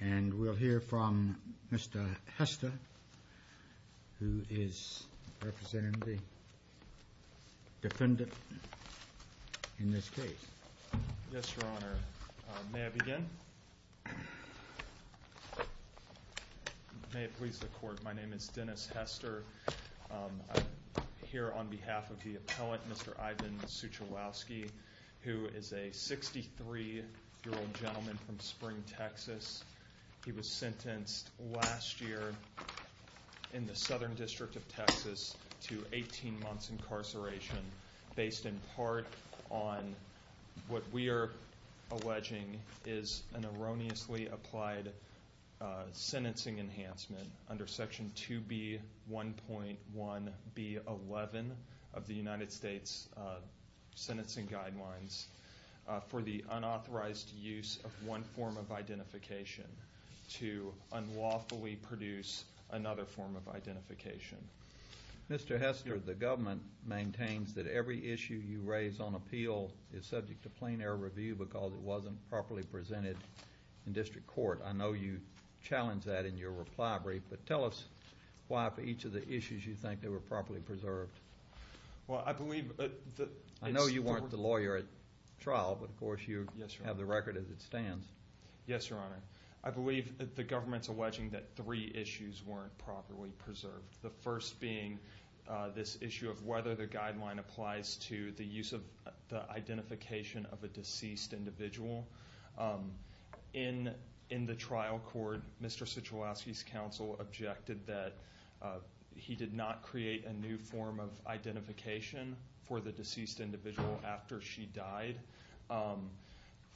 and we'll hear from Mr. Hester who is representing the defendant in this case. Yes, Your Honor. May I begin? May it please the Court. My name is Dennis Hester. I'm here on behalf of the gentleman from Spring, Texas. He was sentenced last year in the Southern District of Texas to 18 months incarceration based in part on what we are alleging is an erroneously applied sentencing enhancement under Section 2B1.1B11 of the United States Sentencing Guidelines for the unauthorized use of one form of identification to unlawfully produce another form of identification. Mr. Hester, the government maintains that every issue you raise on appeal is subject to plain air review because it wasn't properly presented in district court. I know you challenge that in your reply brief, but tell us why for each of the issues you think they were properly preserved. Well, I believe that... I know you weren't the lawyer at trial, but of course you have the record as it stands. Yes, Your Honor. I believe that the government's alleging that three issues weren't properly preserved. The first being this issue of whether the guideline applies to the use of the identification of a deceased individual. In the trial court, Mr. Suchowolski's counsel objected that he did not create a new form of identification. for the deceased individual after she died.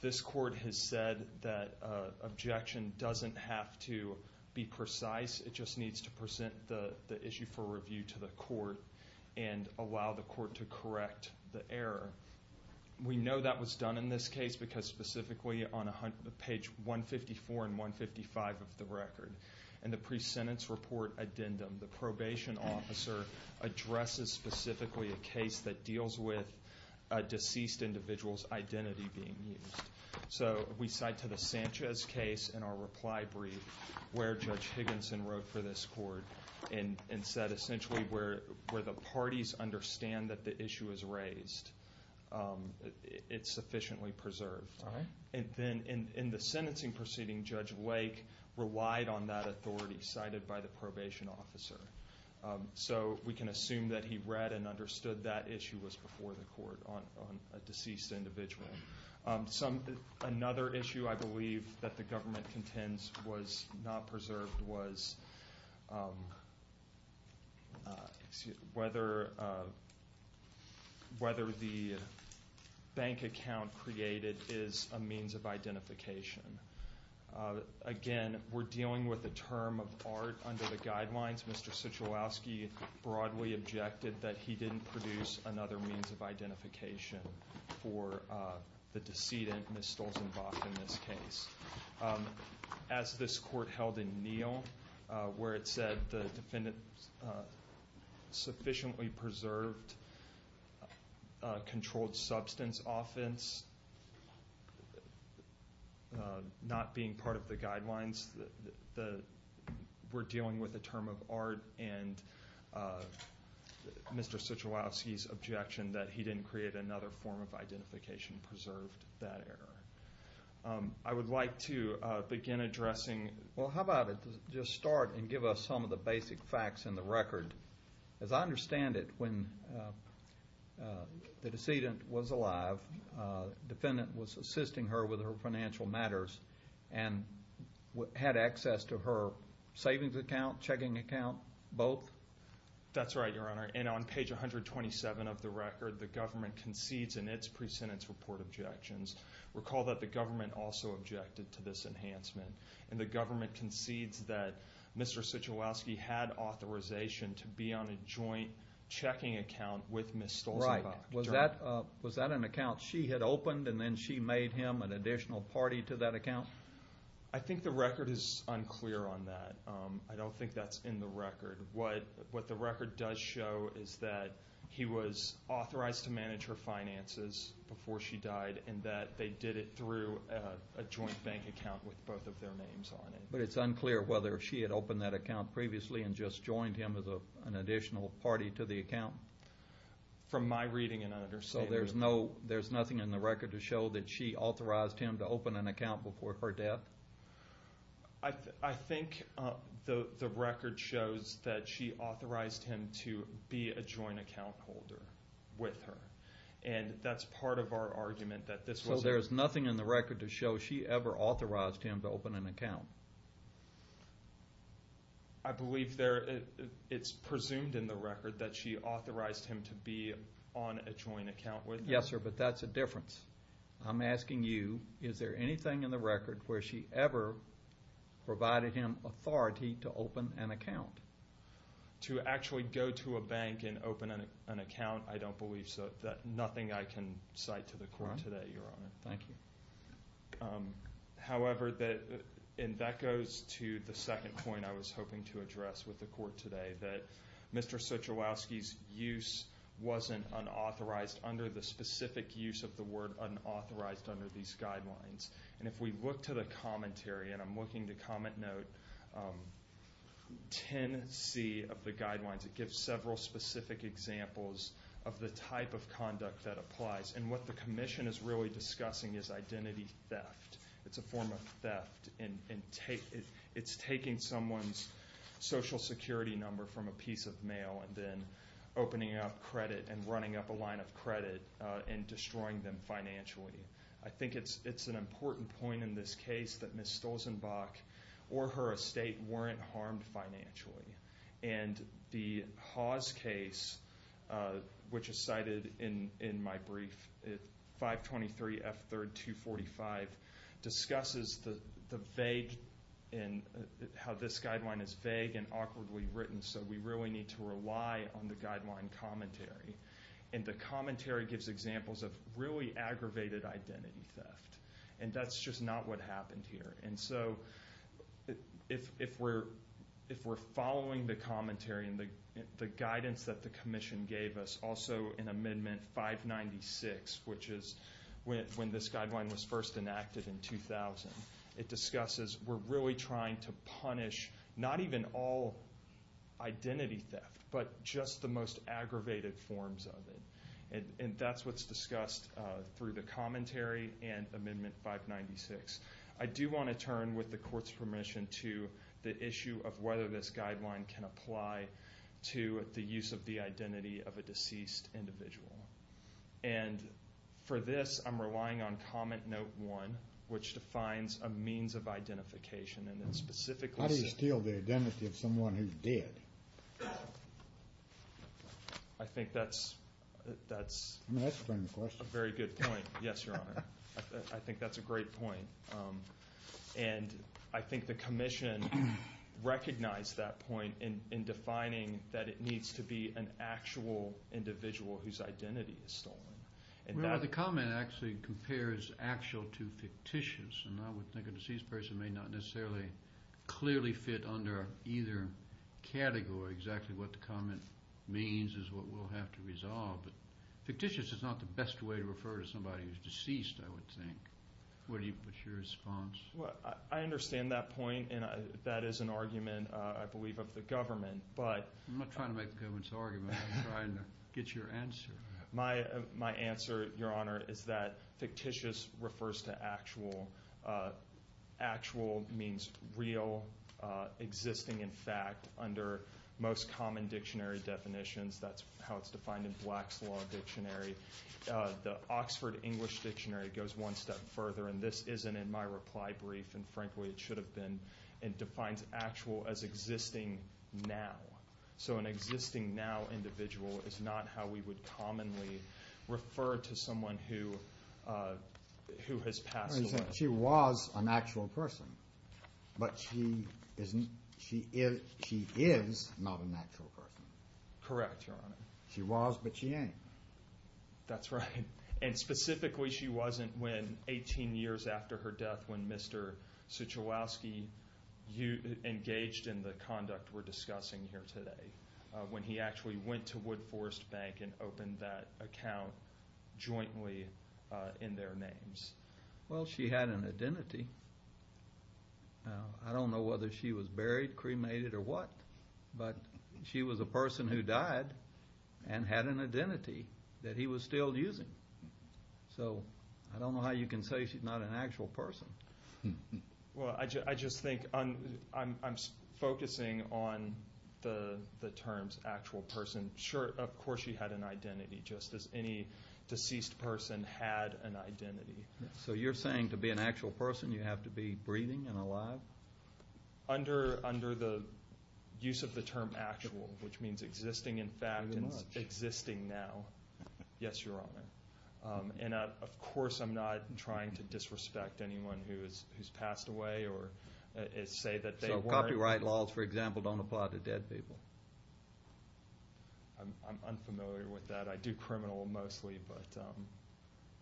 This court has said that objection doesn't have to be precise. It just needs to present the issue for review to the court and allow the court to correct the error. We know that was done in this case because specifically on page 154 and 155 of the record, in the pre-sentence report addendum, the probation officer addresses a person as specifically a case that deals with a deceased individual's identity being used. So we cite to the Sanchez case in our reply brief where Judge Higginson wrote for this court and said essentially where the parties understand that the issue is raised, it's sufficiently preserved. And then in the sentencing proceeding, Judge Lake relied on that authority cited by the probation officer. So we can assume that he read and understood that issue was before the court on a deceased individual. Another issue I believe that the government contends was not preserved was whether the bank account created is a means of identification. Again, we're dealing with a term of art under the guidelines. Mr. Suchowolski broadly objected that he didn't produce another means of identification for the decedent, Ms. Stolzenbach, in this case. As this court held in Neal where it said the defendant sufficiently preserved controlled substance offense. Not being part of the guidelines, we're dealing with a term of art and Mr. Suchowolski's objection that he didn't create another form of identification preserved that error. I would like to begin addressing, well how about it, just start and give us some of the basic facts in the record. As I understand it, when the decedent was alive, the defendant was assisting her with her financial matters and had access to her savings account, checking account, both? That's right, Your Honor. And on page 127 of the record, the government concedes in its pre-sentence report objections. Recall that the government also objected to this enhancement. And the government concedes that Mr. Suchowolski had authorization to produce another form of identification. And that was to be on a joint checking account with Ms. Stolzenbach. Right. Was that an account she had opened and then she made him an additional party to that account? I think the record is unclear on that. I don't think that's in the record. What the record does show is that he was authorized to manage her finances before she died and that they did it through a joint bank account with both of their names on it. But it's unclear whether she had opened that account previously and just joined him as an additional party to the account? From my reading and understanding. So there's nothing in the record to show that she authorized him to open an account before her death? I think the record shows that she authorized him to be a joint account holder with her. And that's part of our argument that this was a... So there's nothing in the record to show she ever authorized him to open an account? I believe it's presumed in the record that she authorized him to be on a joint account with her. Yes, sir, but that's a difference. I'm asking you, is there anything in the record where she ever provided him authority to open an account? To actually go to a bank and open an account, I don't believe so. Nothing I can cite to the court today, your honor. Thank you. However, and that goes to the second point I was hoping to address with the court today, that Mr. Suchalowski's use wasn't unauthorized under the specific use of the word unauthorized under these guidelines. And if we look to the commentary, and I'm looking to comment note 10C of the guidelines, it gives several specific examples of the type of conduct that applies. And what the commission is really discussing is identity theft. It's a form of theft and it's taking someone's social security number from a piece of mail and then opening up credit and running up a line of credit and destroying them financially. I think it's an important point in this case that Ms. Stolzenbach or her estate weren't harmed financially. And the Hawes case, which is cited in my brief, 523F3245, discusses the vague and how this guideline is vague and awkwardly written. So we really need to rely on the guideline commentary. And the commentary gives examples of really aggravated identity theft. And that's just not what happened here. And so if we're following the commentary and the guidance that the commission gave us, also in Amendment 596, which is when this guideline was first enacted in 2000, it discusses we're really trying to punish not even all identity theft, but just the most aggravated forms of identity theft. And that's what's discussed through the commentary and Amendment 596. I do want to turn, with the court's permission, to the issue of whether this guideline can apply to the use of the identity of a deceased individual. And for this, I'm relying on Comment Note 1, which defines a means of identification. How do you steal the identity of someone who's dead? I think that's a very good point. Yes, Your Honor. I think that's a great point. And I think the commission recognized that point in defining that it needs to be an actual individual whose identity is stolen. Remember, the comment actually compares actual to fictitious. And I would think a deceased person may not necessarily clearly fit under either category. Exactly what the comment means is what we'll have to resolve. But fictitious is not the best way to refer to somebody who's deceased, I would think. What's your response? I understand that point. And that is an argument, I believe, of the government. I'm not trying to make the government's argument. I'm trying to get your answer. My answer, Your Honor, is that fictitious refers to actual. Actual means real, existing in fact, under most common dictionary definitions. That's how it's defined in Black's Law Dictionary. The Oxford English Dictionary goes one step further. And this isn't in my reply brief. And frankly, it should have been. It defines actual as existing now. So an existing now individual is not how we would commonly refer to someone who has passed away. She was an actual person. But she is not an actual person. Correct, Your Honor. She was, but she ain't. That's right. And specifically, she wasn't when 18 years after her death when Mr. Suchowowski engaged in the conduct we're discussing here today. When he actually went to Wood Forest Bank and opened that account jointly in their names. She had an identity. I don't know whether she was buried, cremated, or what. But she was a person who died and had an identity that he was still using. So I don't know how you can say she's not an actual person. Well, I just think I'm focusing on the terms actual person. Sure, of course she had an identity, just as any deceased person had an identity. So you're saying to be an actual person you have to be breathing and alive? Under the use of the term actual, which means existing in fact and existing now. Yes, Your Honor. And of course I'm not trying to disrespect anyone who's passed away or say that they weren't. So copyright laws, for example, don't apply to dead people? I'm unfamiliar with that. I do criminal mostly, but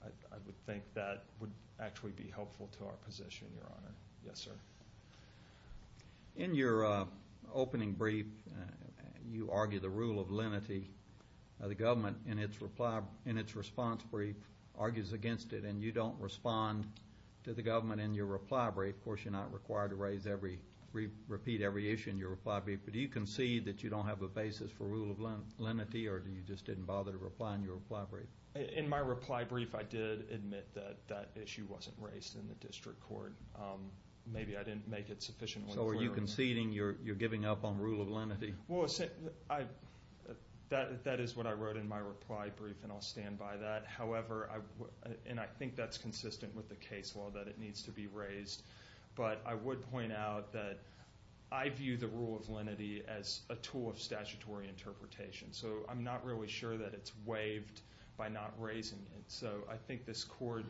I would think that would actually be helpful to our position, Your Honor. Yes, sir. In your opening brief, you argue the rule of lenity. The government, in its response brief, argues against it. And you don't respond to the government in your reply brief. Of course, you're not required to repeat every issue in your reply brief. But do you concede that you don't have a basis for rule of lenity or you just didn't bother to reply in your reply brief? In my reply brief, I did admit that that issue wasn't raised in the district court. Maybe I didn't make it sufficiently clear. So are you conceding you're giving up on rule of lenity? Well, that is what I wrote in my reply brief, and I'll stand by that. However, and I think that's consistent with the case law that it needs to be raised. But I would point out that I view the rule of lenity as a tool of statutory interpretation. So I'm not really sure that it's waived by not raising it. So I think this court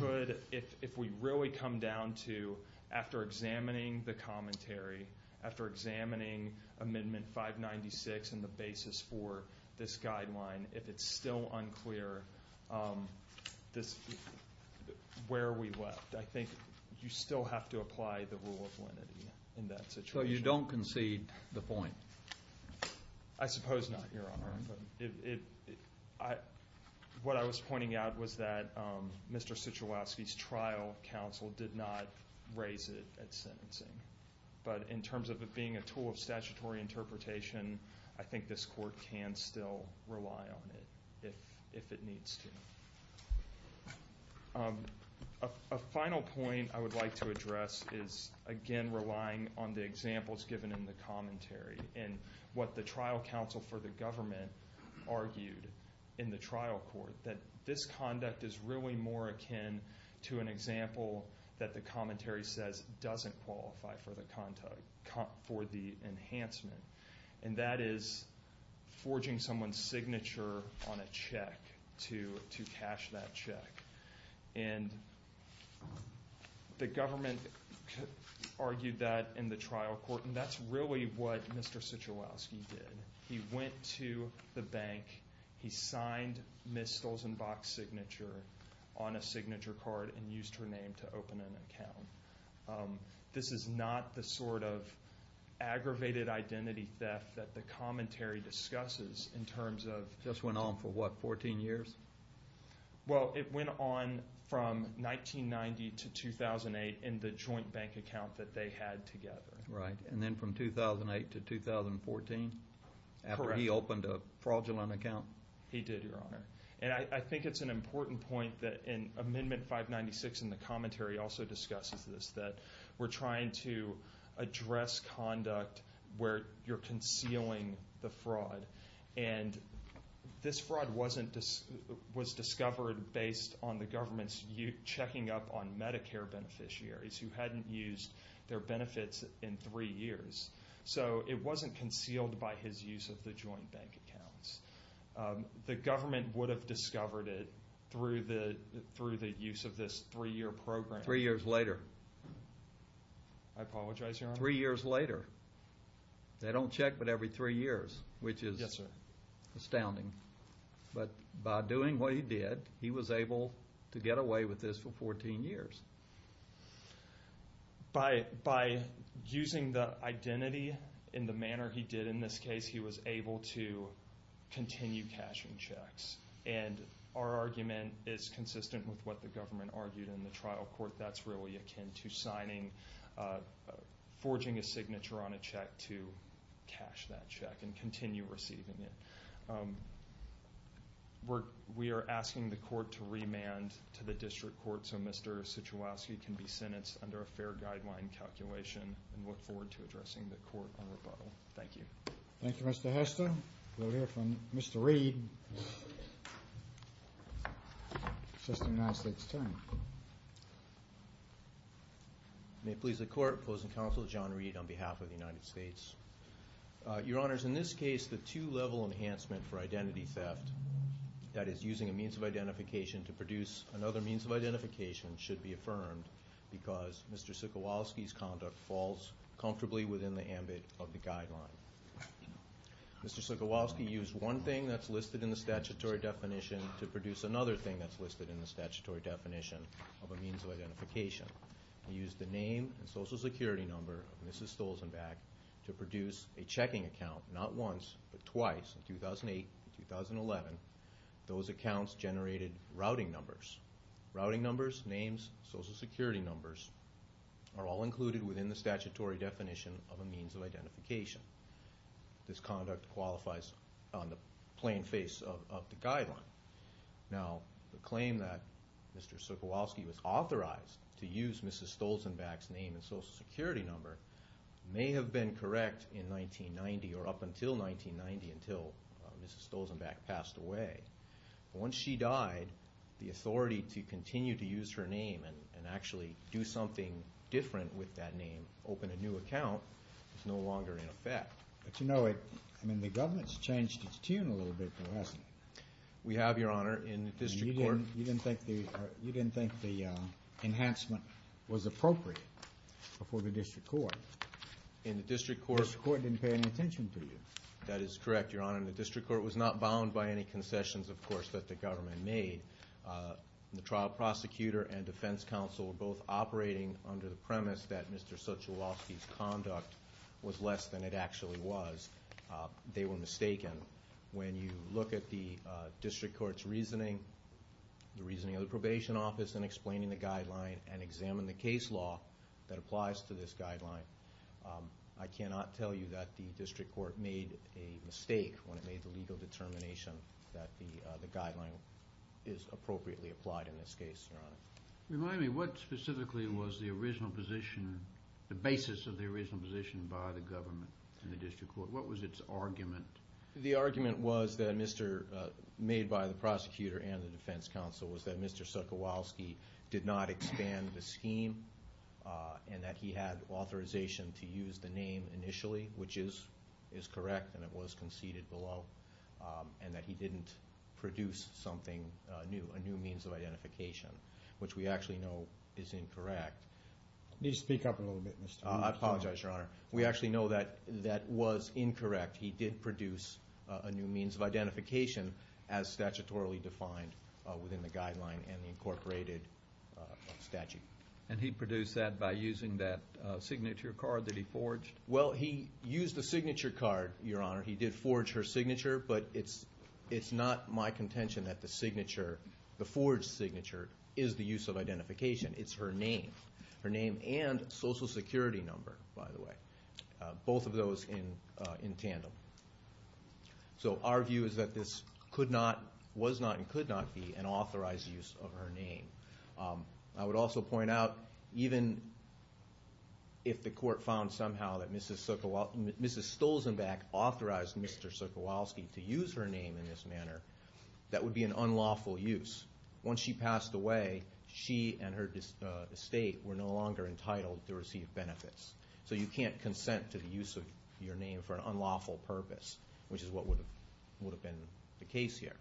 could, if we really come down to, after examining the commentary, after examining Amendment 596 and the basis for this guideline, if it's still unclear where we left, I think you still have to apply the rule of lenity in that situation. So you don't concede the point? I suppose not, Your Honor. What I was pointing out was that Mr. Cicholowski's trial counsel did not raise it at sentencing. But in terms of it being a tool of statutory interpretation, I think this court can still rely on it if it needs to. A final point I would like to address is, again, relying on the examples given in the commentary. And what the trial counsel for the government argued in the trial court, that this conduct is really more akin to an example that the commentary says doesn't qualify for the enhancement. And that is forging someone's signature on a check to cash that check. And the government argued that in the trial court. And that's really what Mr. Cicholowski did. He went to the bank. He signed Ms. Stolzenbach's signature on a signature card and used her name to open an account. This is not the sort of aggravated identity theft that the commentary discusses in terms of… Just went on for what, 14 years? Well, it went on from 1990 to 2008 in the joint bank account that they had together. Right. And then from 2008 to 2014? Correct. After he opened a fraudulent account? He did, Your Honor. And I think it's an important point that in Amendment 596 in the commentary also discusses this, that we're trying to address conduct where you're concealing the fraud. And this fraud was discovered based on the government's checking up on Medicare beneficiaries who hadn't used their benefits in three years. So it wasn't concealed by his use of the joint bank accounts. The government would have discovered it through the use of this three-year program. Three years later. I apologize, Your Honor. Three years later. They don't check but every three years, which is astounding. But by doing what he did, he was able to get away with this for 14 years. By using the identity in the manner he did in this case, he was able to continue cashing checks. And our argument is consistent with what the government argued in the trial court. That's really akin to forging a signature on a check to cash that check and continue receiving it. We are asking the court to remand to the district court so Mr. Suchowowski can be sentenced under a fair guideline calculation and look forward to addressing the court on rebuttal. Thank you. Thank you, Mr. Hester. We'll hear from Mr. Reed. Assistant United States Attorney. May it please the court, opposing counsel John Reed on behalf of the United States. Your Honors, in this case, the two-level enhancement for identity theft, that is using a means of identification to produce another means of identification, should be affirmed because Mr. Suchowowski's conduct falls comfortably within the ambit of the guideline. Mr. Suchowowski used one thing that's listed in the statutory definition to produce another thing that's listed in the statutory definition of a means of identification. He used the name and social security number of Mrs. Stolzenbach to produce a checking account, not once, but twice, in 2008 and 2011. Those accounts generated routing numbers. Routing numbers, names, social security numbers are all included within the statutory definition of a means of identification. This conduct qualifies on the plain face of the guideline. Now, the claim that Mr. Suchowowski was authorized to use Mrs. Stolzenbach's name and social security number may have been correct in 1990 or up until 1990 until Mrs. Stolzenbach passed away. Once she died, the authority to continue to use her name and actually do something different with that name, open a new account, is no longer in effect. But you know, I mean, the government's changed its tune a little bit, hasn't it? We have, Your Honor, in the district court. You didn't think the enhancement was appropriate before the district court. In the district court. The district court didn't pay any attention to you. That is correct, Your Honor. The district court was not bound by any concessions, of course, that the government made. The trial prosecutor and defense counsel were both operating under the premise that Mr. Suchowowski's conduct was less than it actually was. They were mistaken. When you look at the district court's reasoning, the reasoning of the probation office in explaining the guideline and examine the case law that applies to this guideline, I cannot tell you that the district court made a mistake when it made the legal determination that the guideline is appropriately applied in this case, Your Honor. Remind me, what specifically was the original position, the basis of the original position by the government and the district court? What was its argument? The argument was made by the prosecutor and the defense counsel was that Mr. Suchowowski did not expand the scheme and that he had authorization to use the name initially, which is correct and it was conceded below, and that he didn't produce something new, a new means of identification, which we actually know is incorrect. You need to speak up a little bit, Mr. McFarland. I apologize, Your Honor. We actually know that that was incorrect. He did produce a new means of identification as statutorily defined within the guideline and the incorporated statute. And he produced that by using that signature card that he forged? Well, he used the signature card, Your Honor. He did forge her signature, but it's not my contention that the signature, the forged signature, is the use of identification. It's her name, her name and social security number, by the way, both of those in tandem. So our view is that this could not, was not, and could not be an authorized use of her name. I would also point out even if the court found somehow that Mrs. Stolzenbach authorized Mr. Suchowowski to use her name in this manner, that would be an unlawful use. Once she passed away, she and her estate were no longer entitled to receive benefits. So you can't consent to the use of your name for an unlawful purpose, which is what would have been the case here.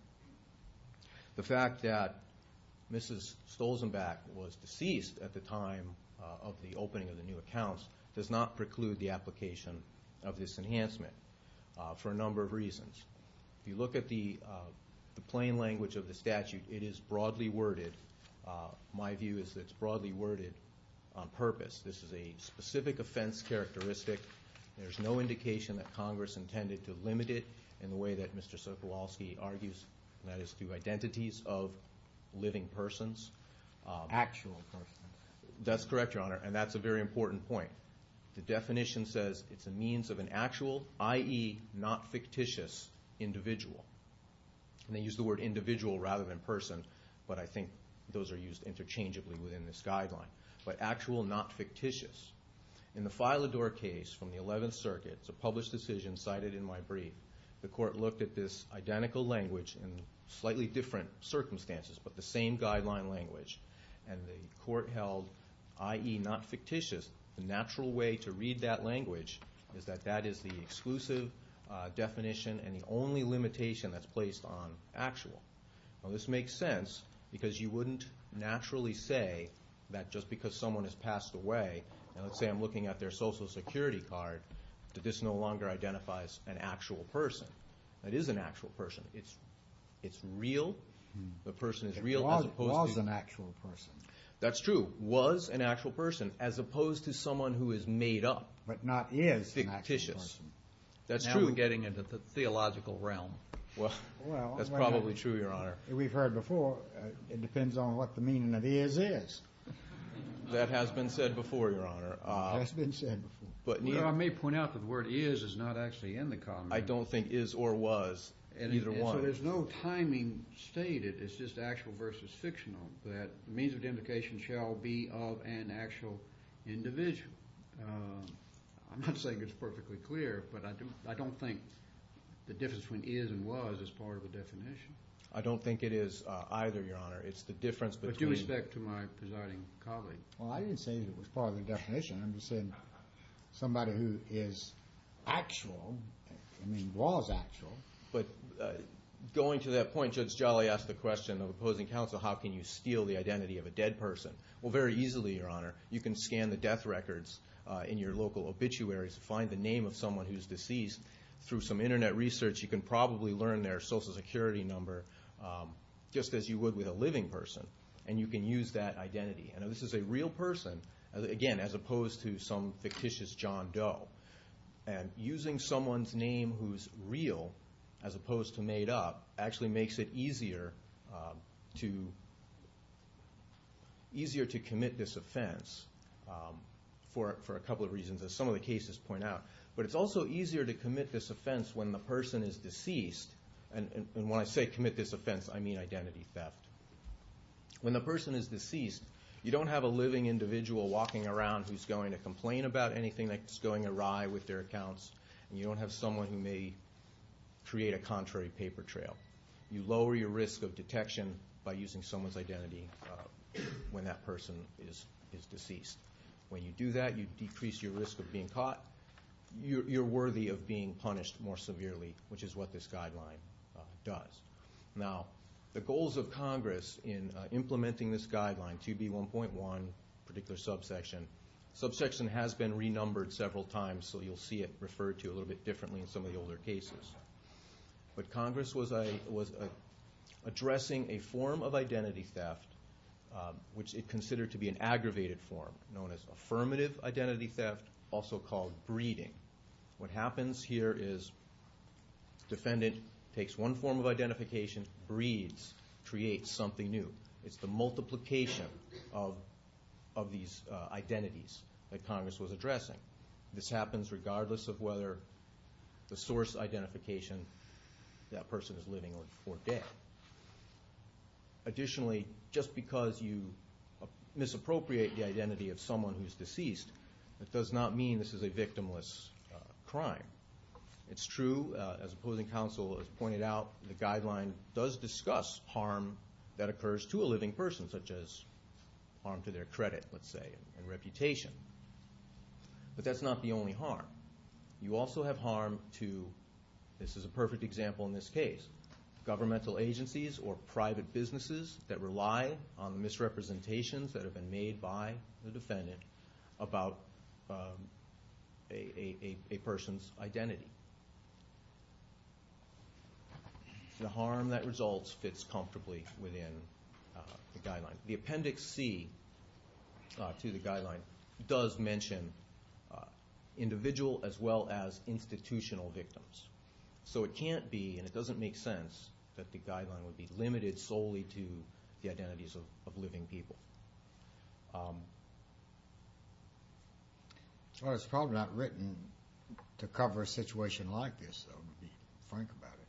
The fact that Mrs. Stolzenbach was deceased at the time of the opening of the new accounts does not preclude the application of this enhancement for a number of reasons. If you look at the plain language of the statute, it is broadly worded. My view is that it's broadly worded on purpose. This is a specific offense characteristic. There's no indication that Congress intended to limit it in the way that Mr. Suchowowski argues, and that is through identities of living persons. Actual persons. That's correct, Your Honor, and that's a very important point. The definition says it's a means of an actual, i.e., not fictitious, individual. And they use the word individual rather than person, but I think those are used interchangeably within this guideline. But actual, not fictitious. In the Filidor case from the 11th Circuit, it's a published decision cited in my brief. The court looked at this identical language in slightly different circumstances, but the same guideline language, and the court held, i.e., not fictitious, the natural way to read that language is that that is the exclusive definition and the only limitation that's placed on actual. Now, this makes sense because you wouldn't naturally say that just because someone has passed away, and let's say I'm looking at their Social Security card, that this no longer identifies an actual person. It is an actual person. It's real. The person is real as opposed to... It was an actual person. That's true. Was an actual person as opposed to someone who is made up. But not is an actual person. Fictitious. That's true. Now we're getting into the theological realm. Well, that's probably true, Your Honor. We've heard before, it depends on what the meaning of is is. That has been said before, Your Honor. It has been said before. I don't think is or was, either one. So there's no timing stated, it's just actual versus fictional, that the means of identification shall be of an actual individual. I'm not saying it's perfectly clear, but I don't think the difference between is and was is part of the definition. I don't think it is either, Your Honor. It's the difference between... With due respect to my presiding colleague. Well, I didn't say it was part of the definition. I'm just saying somebody who is actual, I mean, was actual, but going to that point, Judge Jolly asked the question of opposing counsel, how can you steal the identity of a dead person? Well, very easily, Your Honor. You can scan the death records in your local obituaries to find the name of someone who is deceased. Through some Internet research, you can probably learn their Social Security number, just as you would with a living person, and you can use that identity. Now, this is a real person, again, as opposed to some fictitious John Doe. And using someone's name who's real, as opposed to made up, actually makes it easier to commit this offense for a couple of reasons, as some of the cases point out. But it's also easier to commit this offense when the person is deceased. And when I say commit this offense, I mean identity theft. When the person is deceased, you don't have a living individual walking around who's going to complain about anything that's going awry with their accounts, and you don't have someone who may create a contrary paper trail. You lower your risk of detection by using someone's identity when that person is deceased. When you do that, you decrease your risk of being caught. You're worthy of being punished more severely, which is what this guideline does. Now, the goals of Congress in implementing this guideline, 2B1.1, particular subsection. Subsection has been renumbered several times, so you'll see it referred to a little bit differently in some of the older cases. But Congress was addressing a form of identity theft, which it considered to be an aggravated form, known as affirmative identity theft, also called breeding. What happens here is defendant takes one form of identification, breeds, creates something new. It's the multiplication of these identities that Congress was addressing. This happens regardless of whether the source identification that person is living or dead. Additionally, just because you misappropriate the identity of someone who's deceased, that does not mean this is a victimless crime. It's true, as opposing counsel has pointed out, the guideline does discuss harm that occurs to a living person, such as harm to their credit, let's say, and reputation. But that's not the only harm. You also have harm to, this is a perfect example in this case, governmental agencies or private businesses that rely on misrepresentations that have been made by the defendant about a person's identity. The harm that results fits comfortably within the guideline. The Appendix C to the guideline does mention individual as well as institutional victims. So it can't be, and it doesn't make sense, that the guideline would be limited solely to the identities of living people. It's probably not written to cover a situation like this, though, to be frank about it,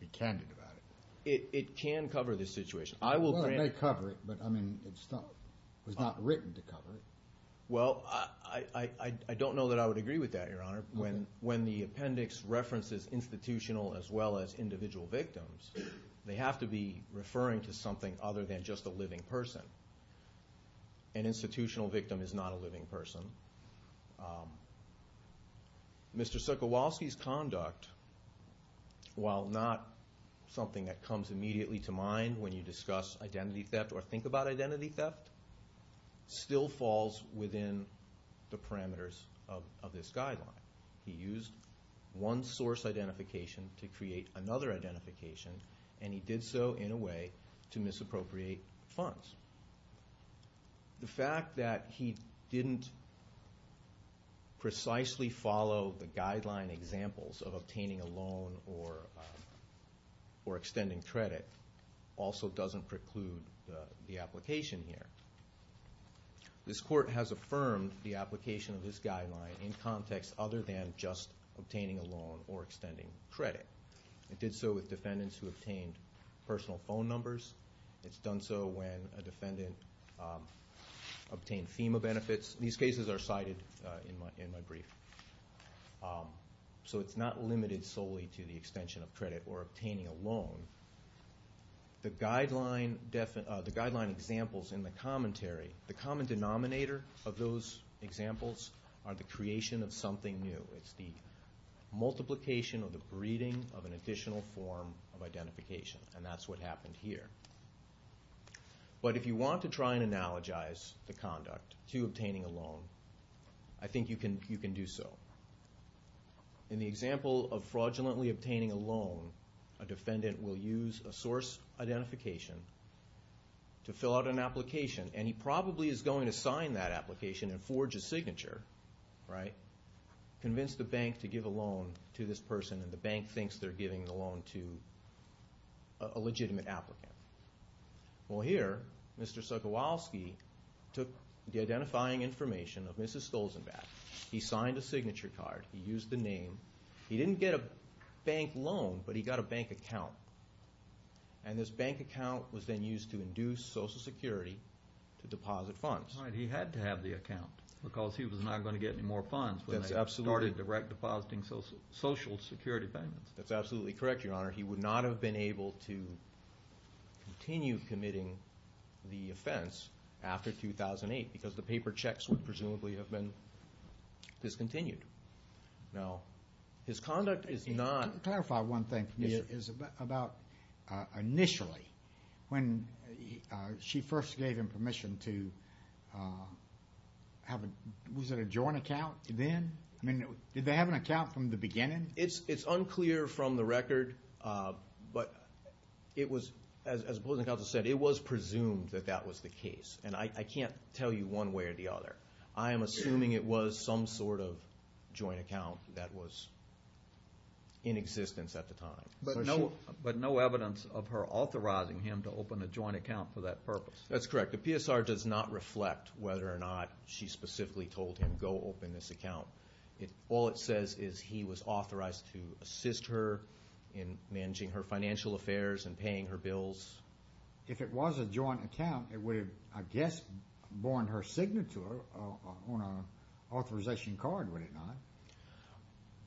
to be candid about it. It can cover this situation. Well, it may cover it, but it's not written to cover it. Well, I don't know that I would agree with that, Your Honor. When the appendix references institutional as well as individual victims, they have to be referring to something other than just a living person. An institutional victim is not a living person. Mr. Cichowalski's conduct, while not something that comes immediately to mind when you discuss identity theft or think about identity theft, still falls within the parameters of this guideline. He used one source identification to create another identification, and he did so in a way to misappropriate funds. The fact that he didn't precisely follow the guideline examples of obtaining a loan or extending credit also doesn't preclude the application here. This court has affirmed the application of this guideline in context other than just obtaining a loan or extending credit. It did so with defendants who obtained personal phone numbers. It's done so when a defendant obtained FEMA benefits. These cases are cited in my brief. So it's not limited solely to the extension of credit or obtaining a loan. The guideline examples in the commentary, the common denominator of those examples are the creation of something new. It's the multiplication or the breeding of an additional form of identification, and that's what happened here. But if you want to try and analogize the conduct to obtaining a loan, I think you can do so. In the example of fraudulently obtaining a loan, a defendant will use a source identification to fill out an application, and he probably is going to sign that application and forge a signature, right, convince the bank to give a loan to this person, and the bank thinks they're giving the loan to a legitimate applicant. Well, here, Mr. Sokolowski took the identifying information of Mrs. Stolzenbach. He signed a signature card. He used the name. He didn't get a bank loan, but he got a bank account, and this bank account was then used to induce Social Security to deposit funds. He had to have the account because he was not going to get any more funds when they started direct depositing Social Security payments. That's absolutely correct, Your Honor. He would not have been able to continue committing the offense after 2008 because the paper checks would presumably have been discontinued. Now, his conduct is not. Can you clarify one thing for me? It's about initially when she first gave him permission to have a, was it a joint account then? I mean, did they have an account from the beginning? It's unclear from the record, but it was, as the opposing counsel said, it was presumed that that was the case, and I can't tell you one way or the other. I am assuming it was some sort of joint account that was in existence at the time. But no evidence of her authorizing him to open a joint account for that purpose. That's correct. The PSR does not reflect whether or not she specifically told him, go open this account. All it says is he was authorized to assist her in managing her financial affairs and paying her bills. If it was a joint account, it would have, I guess, borne her signature on an authorization card, would it not?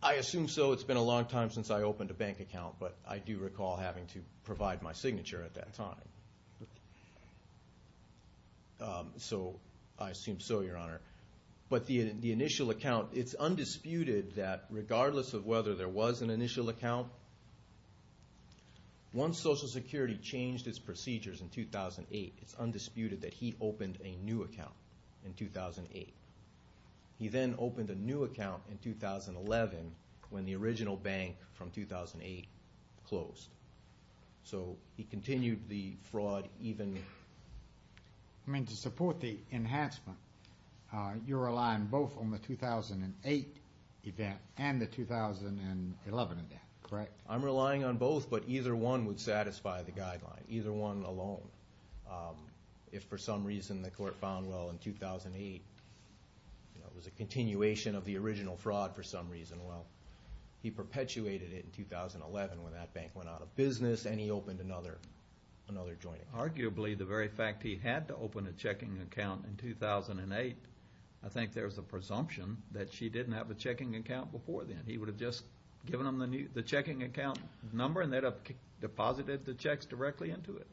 I assume so. It's been a long time since I opened a bank account, but I do recall having to provide my signature at that time. So I assume so, Your Honor. But the initial account, it's undisputed that, regardless of whether there was an initial account, once Social Security changed its procedures in 2008, it's undisputed that he opened a new account in 2008. He then opened a new account in 2011 when the original bank from 2008 closed. So he continued the fraud even. I mean, to support the enhancement, you're relying both on the 2008 event and the 2011 event, correct? I'm relying on both, but either one would satisfy the guideline, either one alone. If for some reason the court found, well, in 2008, it was a continuation of the original fraud for some reason, well, he perpetuated it in 2011 when that bank went out of business and he opened another joint. Arguably, the very fact he had to open a checking account in 2008, I think there's a presumption that she didn't have a checking account before then. He would have just given them the checking account number and they'd have deposited the checks directly into it.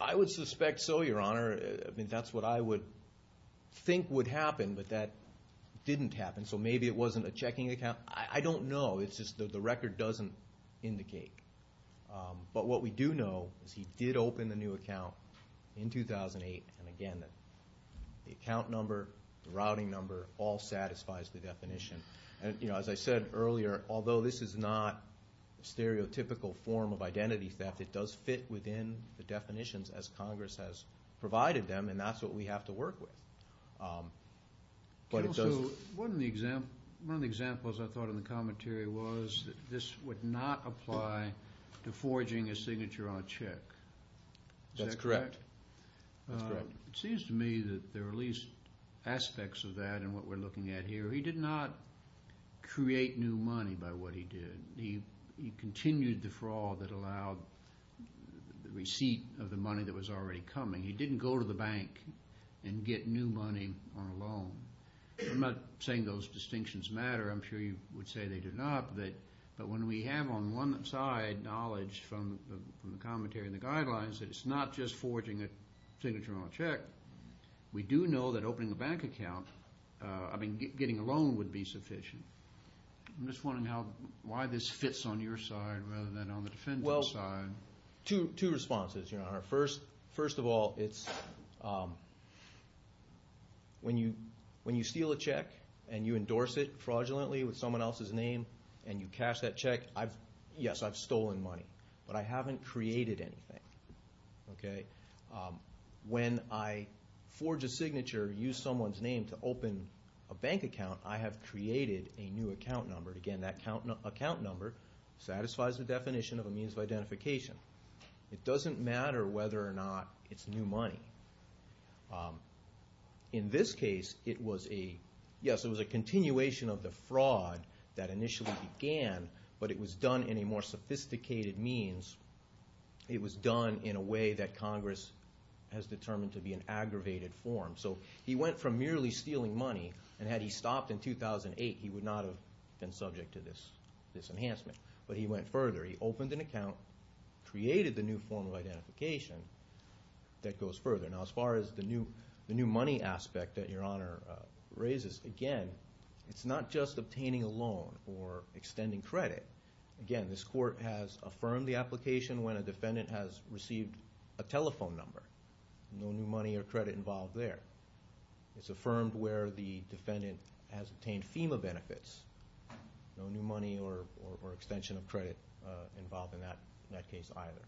I would suspect so, Your Honor. I mean, that's what I would think would happen, but that didn't happen. So maybe it wasn't a checking account. I don't know. It's just that the record doesn't indicate. But what we do know is he did open the new account in 2008, and again, the account number, the routing number all satisfies the definition. As I said earlier, although this is not a stereotypical form of identity theft, it does fit within the definitions as Congress has provided them, and that's what we have to work with. One of the examples I thought in the commentary was that this would not apply to forging a signature on a check. Is that correct? That's correct. It seems to me that there are at least aspects of that in what we're looking at here. He did not create new money by what he did. He continued the fraud that allowed the receipt of the money that was already coming. He didn't go to the bank and get new money on a loan. I'm not saying those distinctions matter. I'm sure you would say they do not. But when we have on one side knowledge from the commentary and the guidelines that it's not just forging a signature on a check, we do know that opening a bank account, I mean, getting a loan would be sufficient. I'm just wondering why this fits on your side rather than on the defendant's side. Well, two responses, Your Honor. First of all, it's when you steal a check and you endorse it fraudulently with someone else's name and you cash that check, yes, I've stolen money, but I haven't created anything. When I forge a signature, use someone's name to open a bank account, I have created a new account number. Again, that account number satisfies the definition of a means of identification. It doesn't matter whether or not it's new money. In this case, it was a continuation of the fraud that initially began, but it was done in a more sophisticated means. It was done in a way that Congress has determined to be an aggravated form. So he went from merely stealing money, and had he stopped in 2008, he would not have been subject to this enhancement. But he went further. He opened an account, created the new form of identification that goes further. Now, as far as the new money aspect that Your Honor raises, again, it's not just obtaining a loan or extending credit. Again, this court has affirmed the application when a defendant has received a telephone number. No new money or credit involved there. It's affirmed where the defendant has obtained FEMA benefits. No new money or extension of credit involved in that case either.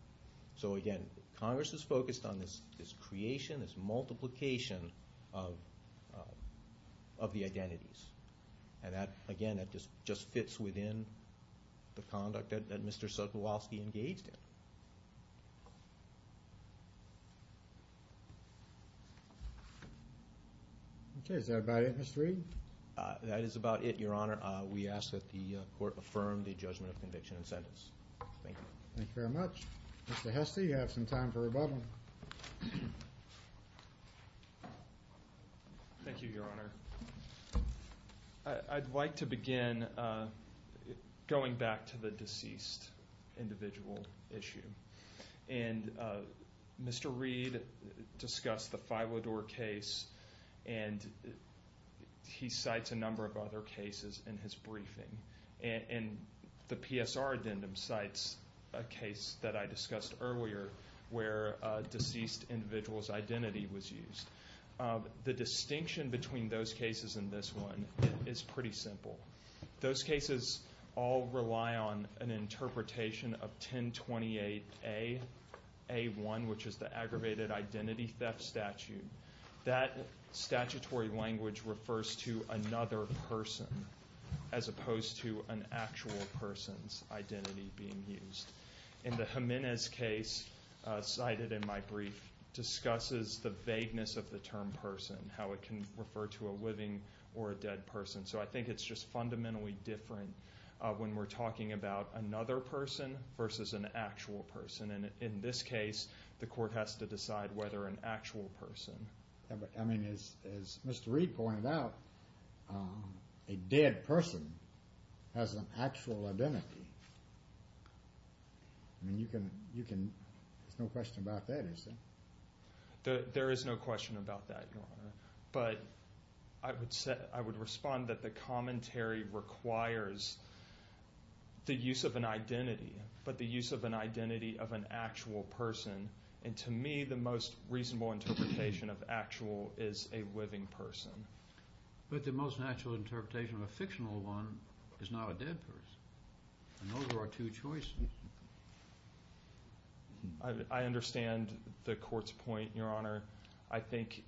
So, again, Congress is focused on this creation, this multiplication of the identities. And that, again, just fits within the conduct that Mr. Sotowalski engaged in. Okay, is that about it, Mr. Reed? That is about it, Your Honor. We ask that the court affirm the judgment of conviction and sentence. Thank you. Thank you very much. Mr. Hesse, you have some time for rebuttal. Thank you, Your Honor. I'd like to begin going back to the deceased individual issue. And Mr. Reed discussed the Filidor case, and he cites a number of other cases in his briefing. And the PSR addendum cites a case that I discussed earlier where a deceased individual's identity was used. The distinction between those cases and this one is pretty simple. Those cases all rely on an interpretation of 1028A, A1, which is the aggravated identity theft statute. That statutory language refers to another person as opposed to an actual person's identity being used. And the Jimenez case cited in my brief discusses the vagueness of the term person, how it can refer to a living or a dead person. So I think it's just fundamentally different when we're talking about another person versus an actual person. And in this case, the court has to decide whether an actual person. I mean, as Mr. Reed pointed out, a dead person has an actual identity. I mean, there's no question about that, is there? There is no question about that, Your Honor. But I would respond that the commentary requires the use of an identity but the use of an identity of an actual person. And to me, the most reasonable interpretation of actual is a living person. But the most natural interpretation of a fictional one is not a dead person. And those are our two choices. I understand the court's point, Your Honor. I think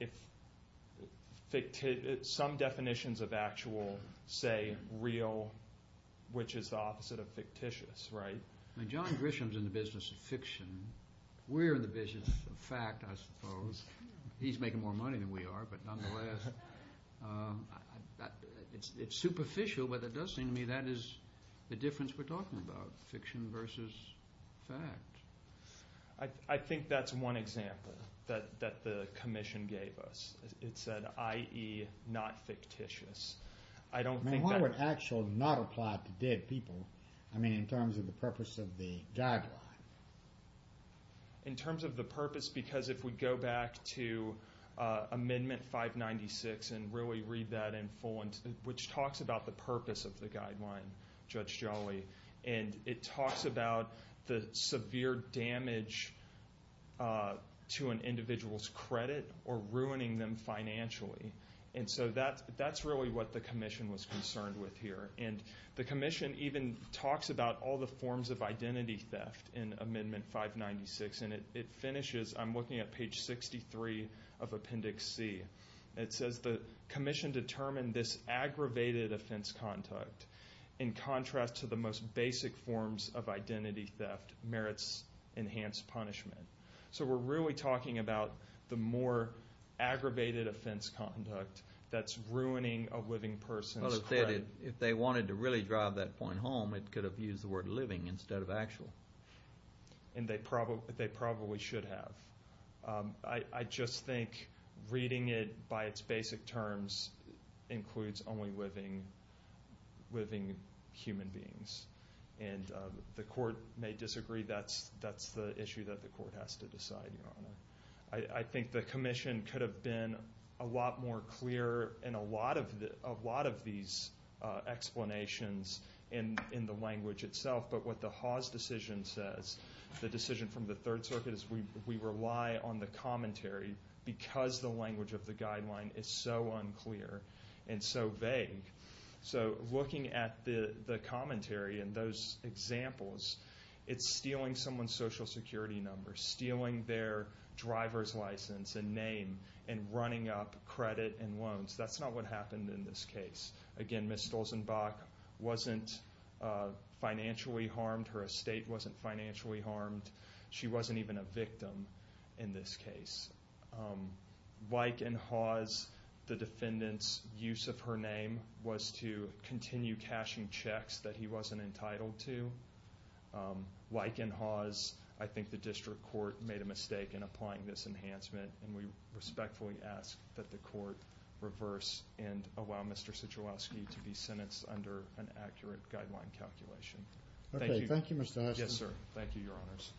some definitions of actual say real, which is the opposite of fictitious, right? I mean, John Grisham's in the business of fiction. We're in the business of fact, I suppose. He's making more money than we are, but nonetheless, it's superficial. But it does seem to me that is the difference we're talking about, fiction versus fact. I think that's one example that the commission gave us. It said, i.e., not fictitious. I don't think that... I mean, why would actual not apply to dead people? I mean, in terms of the purpose of the guideline. In terms of the purpose, because if we go back to Amendment 596 and really read that in full, which talks about the purpose of the guideline, Judge Jolly, and it talks about the severe damage to an individual's credit or ruining them financially. And so that's really what the commission was concerned with here. And the commission even talks about all the forms of identity theft in Amendment 596. And it finishes, I'm looking at page 63 of Appendix C. It says the commission determined this aggravated offense conduct, in contrast to the most basic forms of identity theft, merits enhanced punishment. So we're really talking about the more aggravated offense conduct that's ruining a living person's credit. If they wanted to really drive that point home, it could have used the word living instead of actual. And they probably should have. I just think reading it by its basic terms includes only living human beings. And the court may disagree. That's the issue that the court has to decide, Your Honor. I think the commission could have been a lot more clear in a lot of these explanations in the language itself. But what the Haas decision says, the decision from the Third Circuit, is we rely on the commentary because the language of the guideline is so unclear and so vague. So looking at the commentary and those examples, it's stealing someone's Social Security number, stealing their driver's license and name, and running up credit and loans. That's not what happened in this case. Again, Ms. Stolzenbach wasn't financially harmed. Her estate wasn't financially harmed. She wasn't even a victim in this case. Like in Haas, the defendant's use of her name was to continue cashing checks that he wasn't entitled to. Like in Haas, I think the district court made a mistake in applying this enhancement. And we respectfully ask that the court reverse and allow Mr. Sijalowski to be sentenced under an accurate guideline calculation. Thank you. Thank you, Mr. Haas. Yes, sir. Thank you, Your Honors.